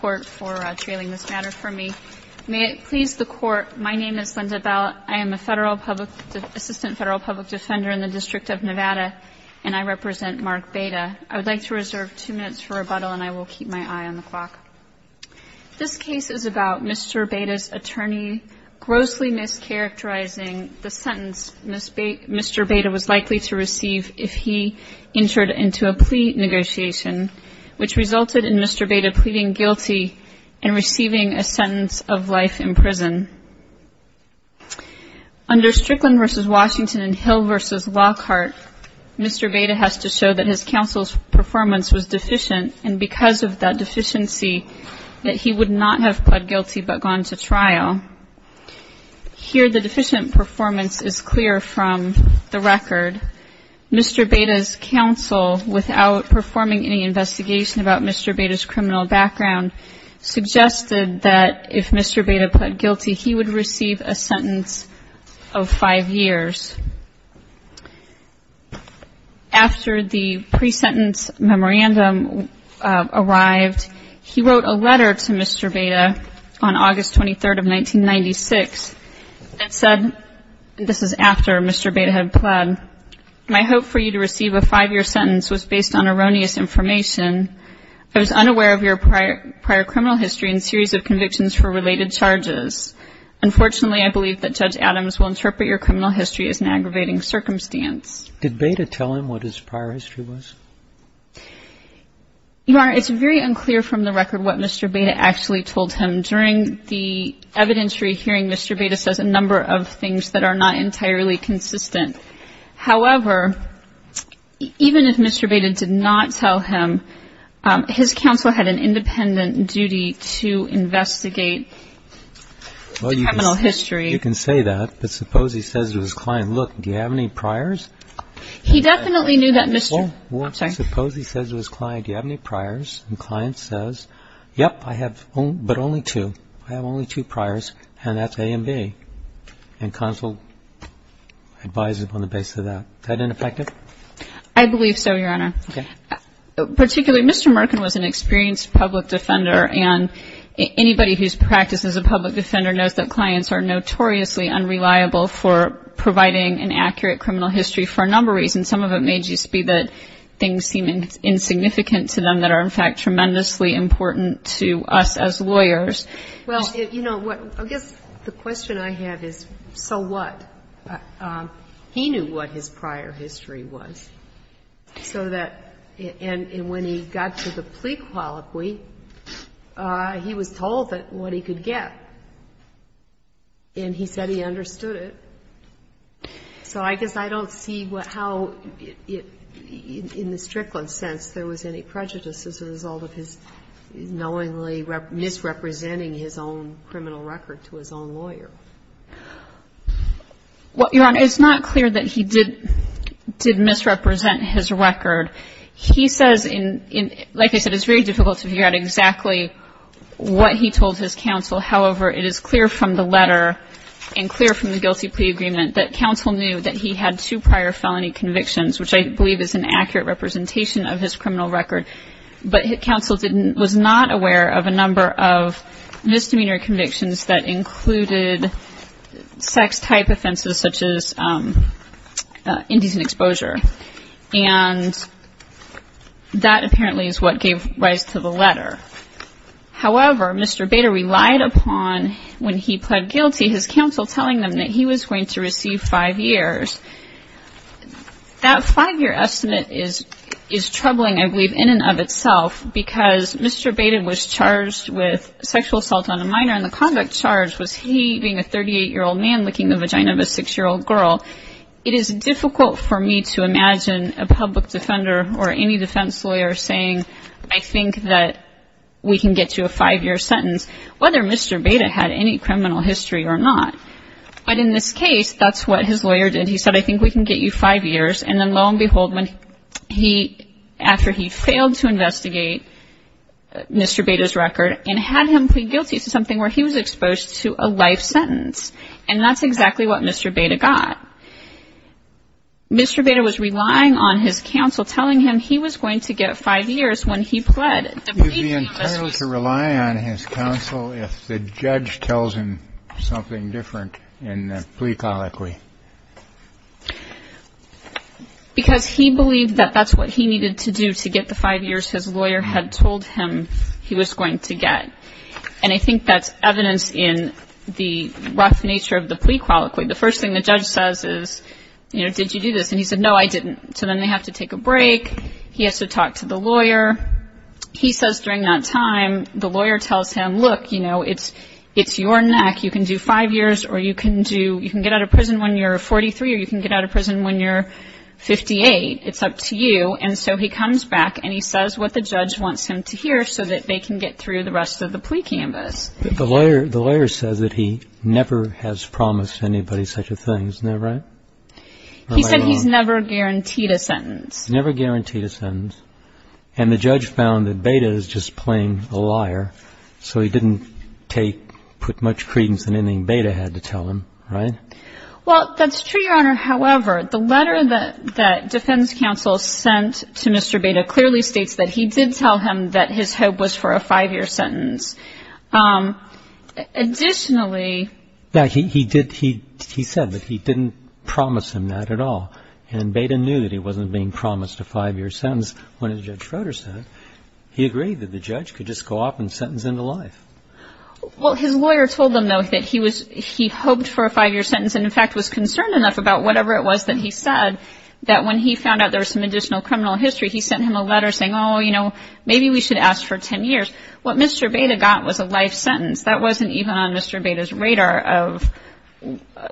for trailing this matter for me. May it please the Court, my name is Linda Bell. I am a Federal Public, Assistant Federal Public Defender in the District of Nevada, and I represent Mark Baeta. I would like to reserve two minutes for rebuttal, and I will keep my eye on the clock. This case is about Mr. Baeta's attorney grossly mischaracterizing the sentence Mr. Baeta was likely to receive if he entered into a plea negotiation, which resulted in Mr. Baeta pleading guilty and receiving a sentence of life in prison. Under Strickland v. Washington and Hill v. Lockhart, Mr. Baeta has to show that his counsel's performance was deficient, and because of that deficiency, that he would not have pled guilty but gone to trial. Here the deficient performance is clear from the record. Mr. Baeta's counsel, without performing any investigation about Mr. Baeta's criminal background, suggested that if Mr. Baeta pled guilty, he would receive a sentence of five years. After the pre-sentence memorandum arrived, he wrote a letter to Mr. Baeta on August 23rd of 1996 that said, and this is after Mr. Baeta had pled, my hope for you to receive a five-year sentence was based on erroneous information. I was unaware of your prior criminal history and series of convictions for related charges. Unfortunately, I believe that Judge Adams will interpret your criminal history as an aggravating circumstance. Did Baeta tell him what his prior history was? Your Honor, it's very unclear from the record what Mr. Baeta actually told him. During the investigation, however, even if Mr. Baeta did not tell him, his counsel had an independent duty to investigate the criminal history. Well, you can say that, but suppose he says to his client, look, do you have any priors? He definitely knew that Mr. I'm sorry. Suppose he says to his client, do you have any priors? And the client says, yep, I have but only two. I have only two priors, and that's A and B. And counsel advises on the basis of that. Is that ineffective? I believe so, Your Honor. Particularly, Mr. Merkin was an experienced public defender, and anybody whose practice as a public defender knows that clients are notoriously unreliable for providing an accurate criminal history for a number of reasons. Some of it may just be that things seem insignificant to them that are, in fact, tremendously important to us as lawyers. Well, you know, I guess the question I have is, so what? He knew what his prior history was, so that, and when he got to the plea colloquy, he was told what he could get, and he said he understood it. So I guess I don't see how, in the Strickland sense, there was any prejudice as a result of his knowingly misrepresenting his own criminal record to his own lawyer. Well, Your Honor, it's not clear that he did misrepresent his record. He says, like I said, it's very difficult to figure out exactly what he told his counsel. However, it is clear from the letter and clear from the guilty plea agreement that counsel knew that he had two prior felony convictions, which I believe is an accurate representation of his criminal record, but counsel was not aware of a number of misdemeanor convictions that included sex-type offenses such as indecent exposure. And that apparently is what gave rise to the letter. However, Mr. Bader relied upon, when he pled guilty, his counsel telling him that he was going to receive five years. That five-year estimate is troubling, I believe, in and of itself, because Mr. Bader was charged with sexual assault on a minor, and the convict charged was he, being a 38-year-old man, licking the vagina of a 6-year-old girl. It is difficult for me to imagine a public defender or any defense lawyer saying, I think that we can get you a five-year sentence, whether Mr. Bader had any criminal history or not. But in this case, that's what his lawyer did. He said, I think we can get you five years. And then, lo and behold, when he, after he failed to investigate Mr. Bader's record and had him plead guilty to something where he was exposed to a life sentence. And that's exactly what Mr. Bader got. Mr. Bader was relying on his counsel telling him he was going to get five years when he pled. Would he be entitled to rely on his counsel if the judge tells him something different in the plea colloquy? Because he believed that that's what he needed to do to get the five years his lawyer had told him he was going to get. And I think that's evidence in the rough nature of the plea colloquy. The first thing the judge says is, you know, did you do this? And he said, no, I didn't. So then they have to take a break. He has to talk to the lawyer. He says during that time, the lawyer tells him, look, you know, it's your neck. You can do five years or you can do, you can get out of prison when you're 43 or you can get out of prison when you're 58. It's up to you. And so he comes back and he says what the judge wants him to hear so that they can get through the rest of the plea canvas. The lawyer says that he never has promised anybody such a thing. Isn't that right? He said he's never guaranteed a sentence. Never guaranteed a sentence. And the judge found that Beda is just plain a liar. So he didn't take, put much credence in anything Beda had to tell him. Right? Well, that's true, Your Honor. However, the letter that that defense counsel sent to Mr. Beda clearly states that he did tell him that his hope was for a five year sentence. Additionally. Yeah, he did. He said that he didn't promise him that at all. And Beda knew that he wasn't being promised a five year sentence when Judge Froder said he agreed that the judge could just go off and sentence him to life. Well, his lawyer told them, though, that he was he hoped for a five year sentence and in fact was concerned enough about whatever it was that he said that when he found out there was some additional criminal history, he sent him a letter saying, oh, you know, maybe we should ask for 10 years. What Mr. Beda got was a life sentence. That wasn't even on Mr. Beda's radar of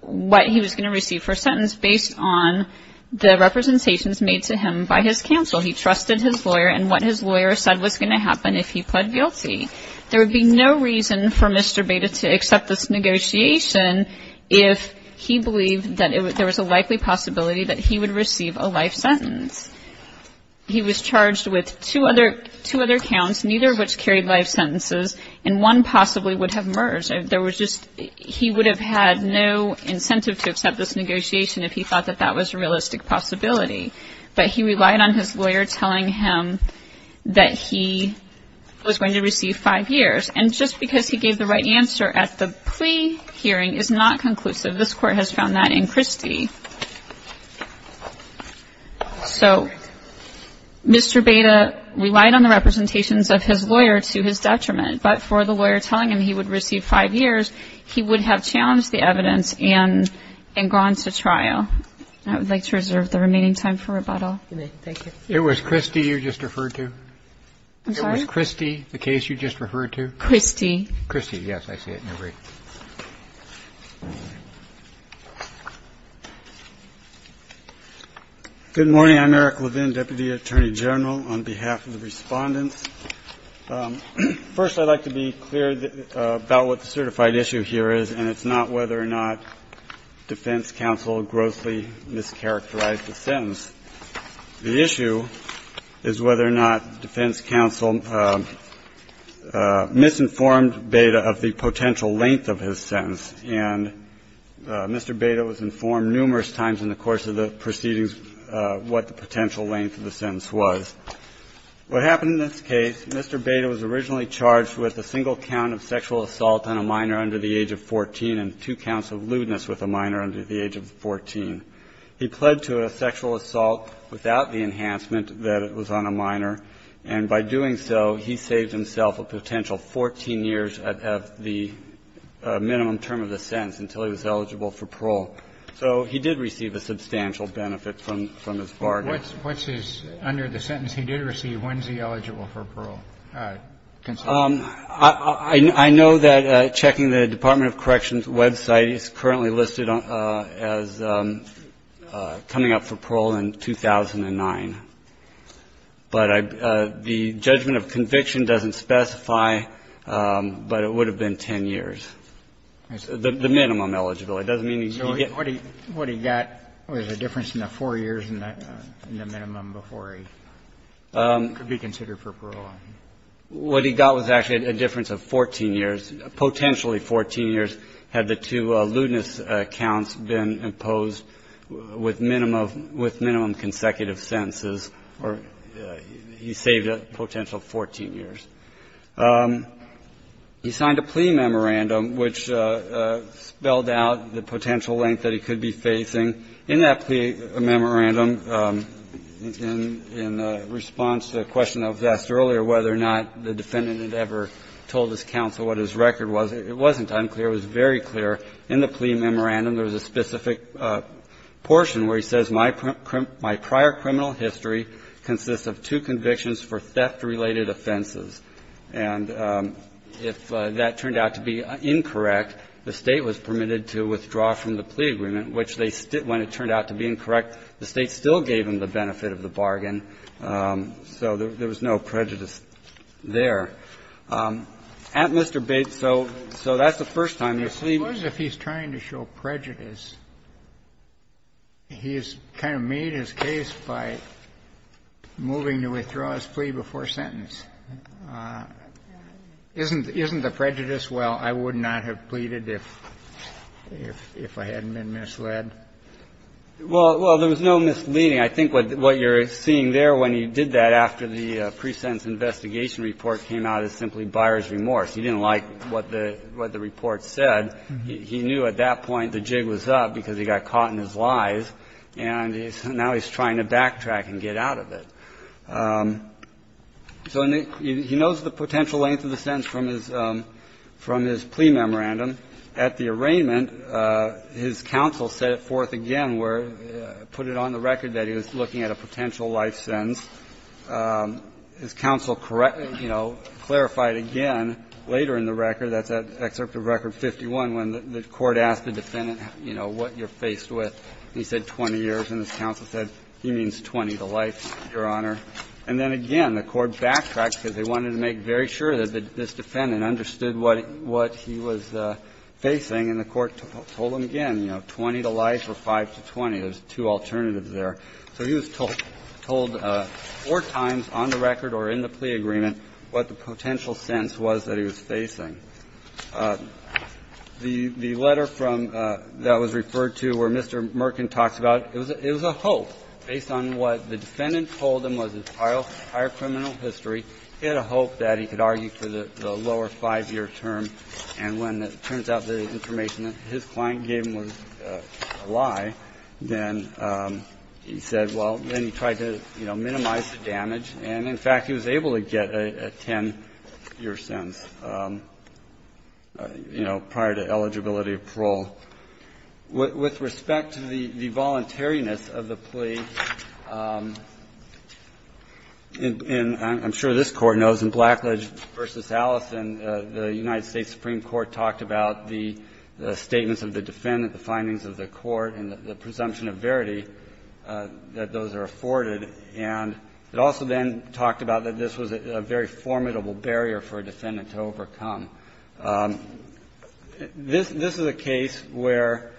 what he was going to receive for a sentence based on the representations made to him by his counsel. He trusted his lawyer and what his lawyer said was going to happen if he pled guilty. There would be no reason for Mr. Beda to accept this negotiation if he believed that there was a likely possibility that he would receive a life sentence. He was charged with two other counts, neither of which carried life sentences, and one possibly would have merged. He would have had no incentive to accept this negotiation if he thought that that was a realistic possibility. But he relied on his lawyer telling him that he was going to receive five years. And just because he gave the right answer at the plea hearing is not conclusive. This Court has found that in Christie. So Mr. Beda relied on the representations of his lawyer to his detriment, but for the reason that he would receive five years, he would have challenged the evidence and gone to trial. I would like to reserve the remaining time for rebuttal. It was Christie you just referred to? I'm sorry? It was Christie, the case you just referred to? Christie. Christie, yes. I see it in your brief. Good morning. I'm Eric Levin, Deputy Attorney General, on behalf of the respondents. First, I'd like to be clear about what the certified issue here is, and it's not whether or not defense counsel grossly mischaracterized the sentence. The issue is whether or not defense counsel misinformed Beda of the potential length of his sentence. And Mr. Beda was informed numerous times in the course of the proceedings what the potential length of the sentence was. What happened in this case, Mr. Beda was originally charged with a single count of sexual assault on a minor under the age of 14 and two counts of lewdness with a minor under the age of 14. He pled to a sexual assault without the enhancement that it was on a minor, and by doing so, he saved himself a potential 14 years of the minimum term of the sentence until he was eligible for parole. So he did receive a substantial benefit from his bargain. What's his, under the sentence he did receive, when's he eligible for parole? I know that checking the Department of Corrections website, it's currently listed as coming up for parole in 2009. But the judgment of conviction doesn't specify, but it would have been 10 years, the minimum eligibility. So what he got was a difference in the 4 years in the minimum before he could be considered for parole. What he got was actually a difference of 14 years, potentially 14 years had the two lewdness counts been imposed with minimum consecutive sentences, or he saved a potential 14 years. He signed a plea memorandum, which spelled out that he was eligible for parole, the potential length that he could be facing. In that plea memorandum, in response to a question I've asked earlier whether or not the defendant had ever told his counsel what his record was, it wasn't unclear, it was very clear. In the plea memorandum, there was a specific portion where he says, my prior criminal history consists of two convictions for theft-related offenses. And if that turned out to be incorrect, the State was permitted to withdraw from the plea agreement, which they still, when it turned out to be incorrect, the State still gave him the benefit of the bargain, so there was no prejudice there. At Mr. Bates, so that's the first time they've seen you. Kennedy, I suppose if he's trying to show prejudice, he's kind of made his case by moving to withdraw his plea before sentence. Isn't the prejudice, well, I would not have pleaded if I hadn't been misled? Well, there was no misleading. I think what you're seeing there, when he did that after the pre-sentence investigation report came out, is simply buyer's remorse. He didn't like what the report said. He knew at that point the jig was up because he got caught in his lies, and now he's trying to backtrack and get out of it. So he knows the potential length of the sentence from his plea memorandum. At the arraignment, his counsel set it forth again, where he put it on the record that he was looking at a potential life sentence. His counsel, you know, clarified again later in the record, that's at Excerpt of Record 51, when the court asked the defendant, you know, what you're faced with. And he said 20 years, and his counsel said, he means 20 to life, Your Honor. And then again, the court backtracked because they wanted to make very sure that this defendant understood what he was facing, and the court told him again, you know, 20 to life or 5 to 20. There's two alternatives there. So he was told four times on the record or in the plea agreement what the potential sentence was that he was facing. The letter from the one that was referred to where Mr. Merkin talks about, it was a hope based on what the defendant told him was his entire criminal history. He had a hope that he could argue for the lower 5-year term, and when it turns out that the information that his client gave him was a lie, then he said, well, then he tried to, you know, minimize the damage. And in fact, he was able to get a 10-year sentence. And so, you know, prior to eligibility of parole, with respect to the voluntariness of the plea, and I'm sure this Court knows in Blackledge v. Allison, the United States Supreme Court talked about the statements of the defendant, the findings of the court, and the presumption of verity that those are afforded. And it also then talked about that this was a very formidable barrier for a defendant to overcome. This is a case where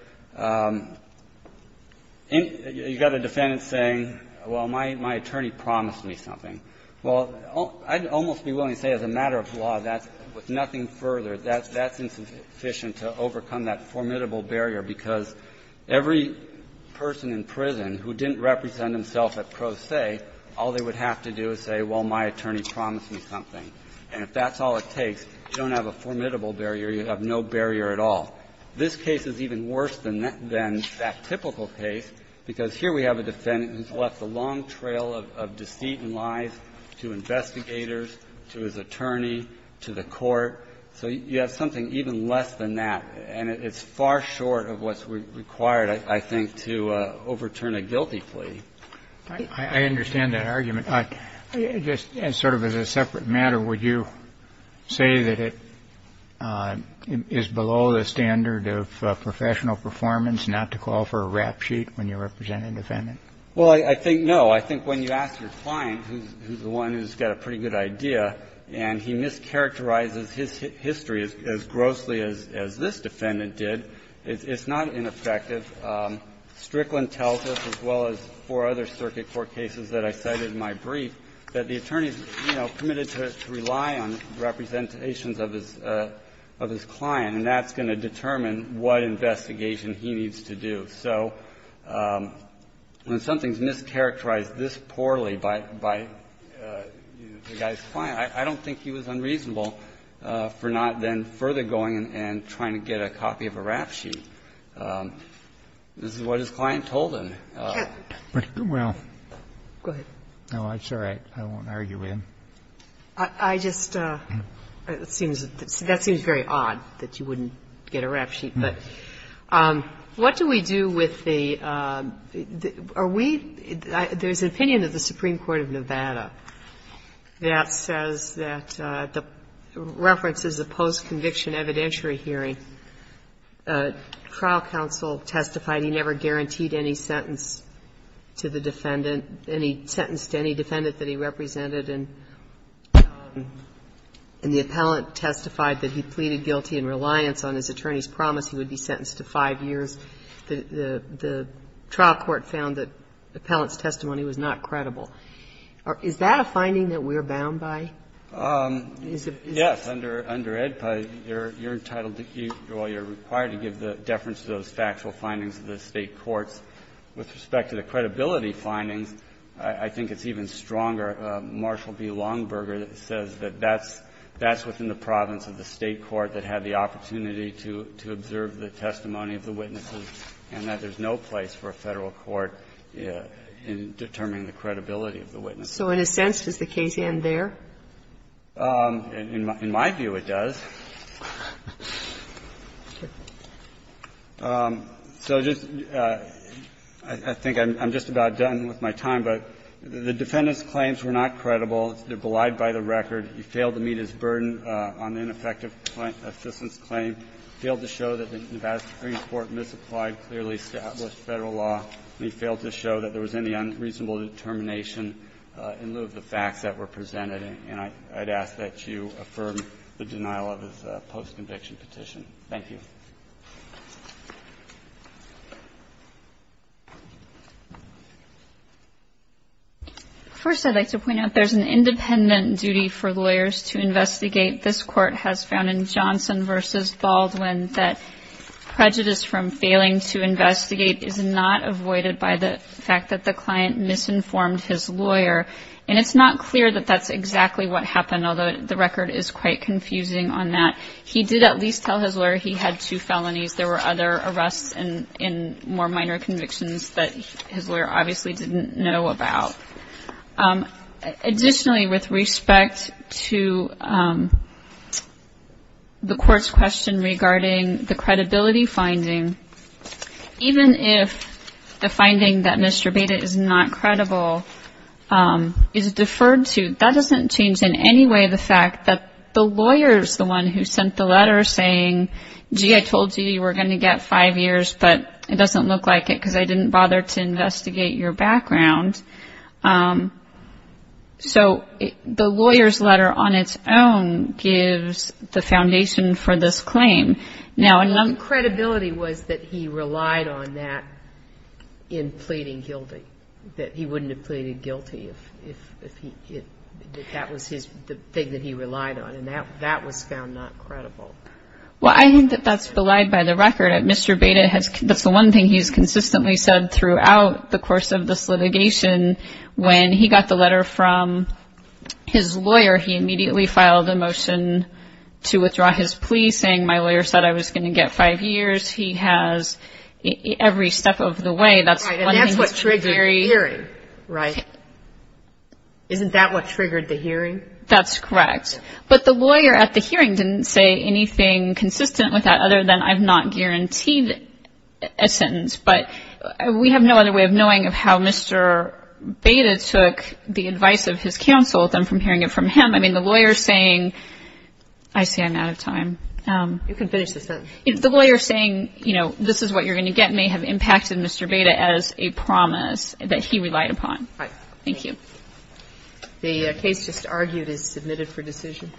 you've got a defendant saying, well, my attorney promised me something. Well, I'd almost be willing to say as a matter of law, that's with nothing further, that's insufficient to overcome that formidable barrier, because every person in prison who didn't represent himself at pro se, had to go through a trial and say, all they would have to do is say, well, my attorney promised me something. And if that's all it takes, you don't have a formidable barrier, you have no barrier at all. This case is even worse than that typical case, because here we have a defendant who's left a long trail of deceit and lies to investigators, to his attorney, to the court. So you have something even less than that, and it's far short of what's required, I think, to overturn a guilty plea. I understand that argument. Just sort of as a separate matter, would you say that it is below the standard of professional performance not to call for a rap sheet when you represent a defendant? Well, I think no. I think when you ask your client, who's the one who's got a pretty good idea, and he mischaracterizes his history as grossly as this defendant did, it's not ineffective. Strickland tells us, as well as four other circuit court cases that I cited in my brief, that the attorney's, you know, permitted to rely on representations of his client, and that's going to determine what investigation he needs to do. So when something's mischaracterized this poorly by the guy's client, I don't think he was unreasonable for not then further going and trying to get a copy of a rap sheet. This is what his client told him. Well, I'm sorry. I won't argue with him. I just seems that seems very odd that you wouldn't get a rap sheet. But what do we do with the are we there's an opinion of the Supreme Court of Nevada that says that the reference is a post-conviction evidentiary hearing. The trial counsel testified he never guaranteed any sentence to the defendant any sentence to any defendant that he represented, and the appellant testified that he pleaded guilty in reliance on his attorney's promise he would be sentenced to five years. The trial court found that the appellant's testimony was not credible. Is that a finding that we're bound by? Yes. Under EDPA, you're entitled to, well, you're required to give the deference to those factual findings of the State courts. With respect to the credibility findings, I think it's even stronger. Marshall B. Longberger says that that's within the province of the State court that had the opportunity to observe the testimony of the witnesses and that there's no place for a Federal court in determining the credibility of the witnesses. So in a sense, does the case end there? In my view, it does. So just to be clear, I think I'm just about done with my time, but the defendant's claims were not credible. They're belied by the record. He failed to meet his burden on the ineffective assistance claim, failed to show that the Nevada Supreme Court misapplied clearly established Federal law, and he failed to show that there was any unreasonable determination in lieu of the facts that were found in Johnson v. Baldwin. And I'd ask that you affirm the denial of his post-conviction petition. Thank you. First, I'd like to point out there's an independent duty for lawyers to investigate. This Court has found in Johnson v. Baldwin that prejudice from failing to investigate is not avoided by the fact that the client misinformed his lawyer. And it's not clear that that's exactly what happened, although the record is quite confusing on that. He did at least tell his lawyer he had two felonies. There were other arrests and more minor convictions that his lawyer obviously didn't know about. Additionally, with respect to the Court's question regarding the credibility finding, even if the finding that Mr. Beda is not credible is deferred to, that doesn't change in any way the fact that the lawyer is the one who sent the letter saying, gee, I told you you were going to get five years, but it doesn't look like it because I didn't bother to investigate your background. So the lawyer's letter on its own gives the foundation for this claim. Now, credibility was that he relied on that in pleading guilty, that he wouldn't have pleaded guilty if that was the thing that he relied on, and that was found not credible. Well, I think that that's relied by the record. Mr. Beda, that's the one thing he's consistently said throughout the course of this litigation. When he got the letter from his lawyer, he immediately filed a motion to withdraw his claim. He said, I was going to get five years. He has every step of the way. That's one thing that's very... Right. And that's what triggered the hearing, right? Isn't that what triggered the hearing? That's correct. But the lawyer at the hearing didn't say anything consistent with that other than, I've not guaranteed a sentence. But we have no other way of knowing of how Mr. Beda took the advice of his counsel than from hearing it from him. I mean, the lawyer's saying, I see I'm out of time. You can finish the sentence. If the lawyer's saying, you know, this is what you're going to get, may have impacted Mr. Beda as a promise that he relied upon. Right. Thank you. The case just argued is submitted for decision.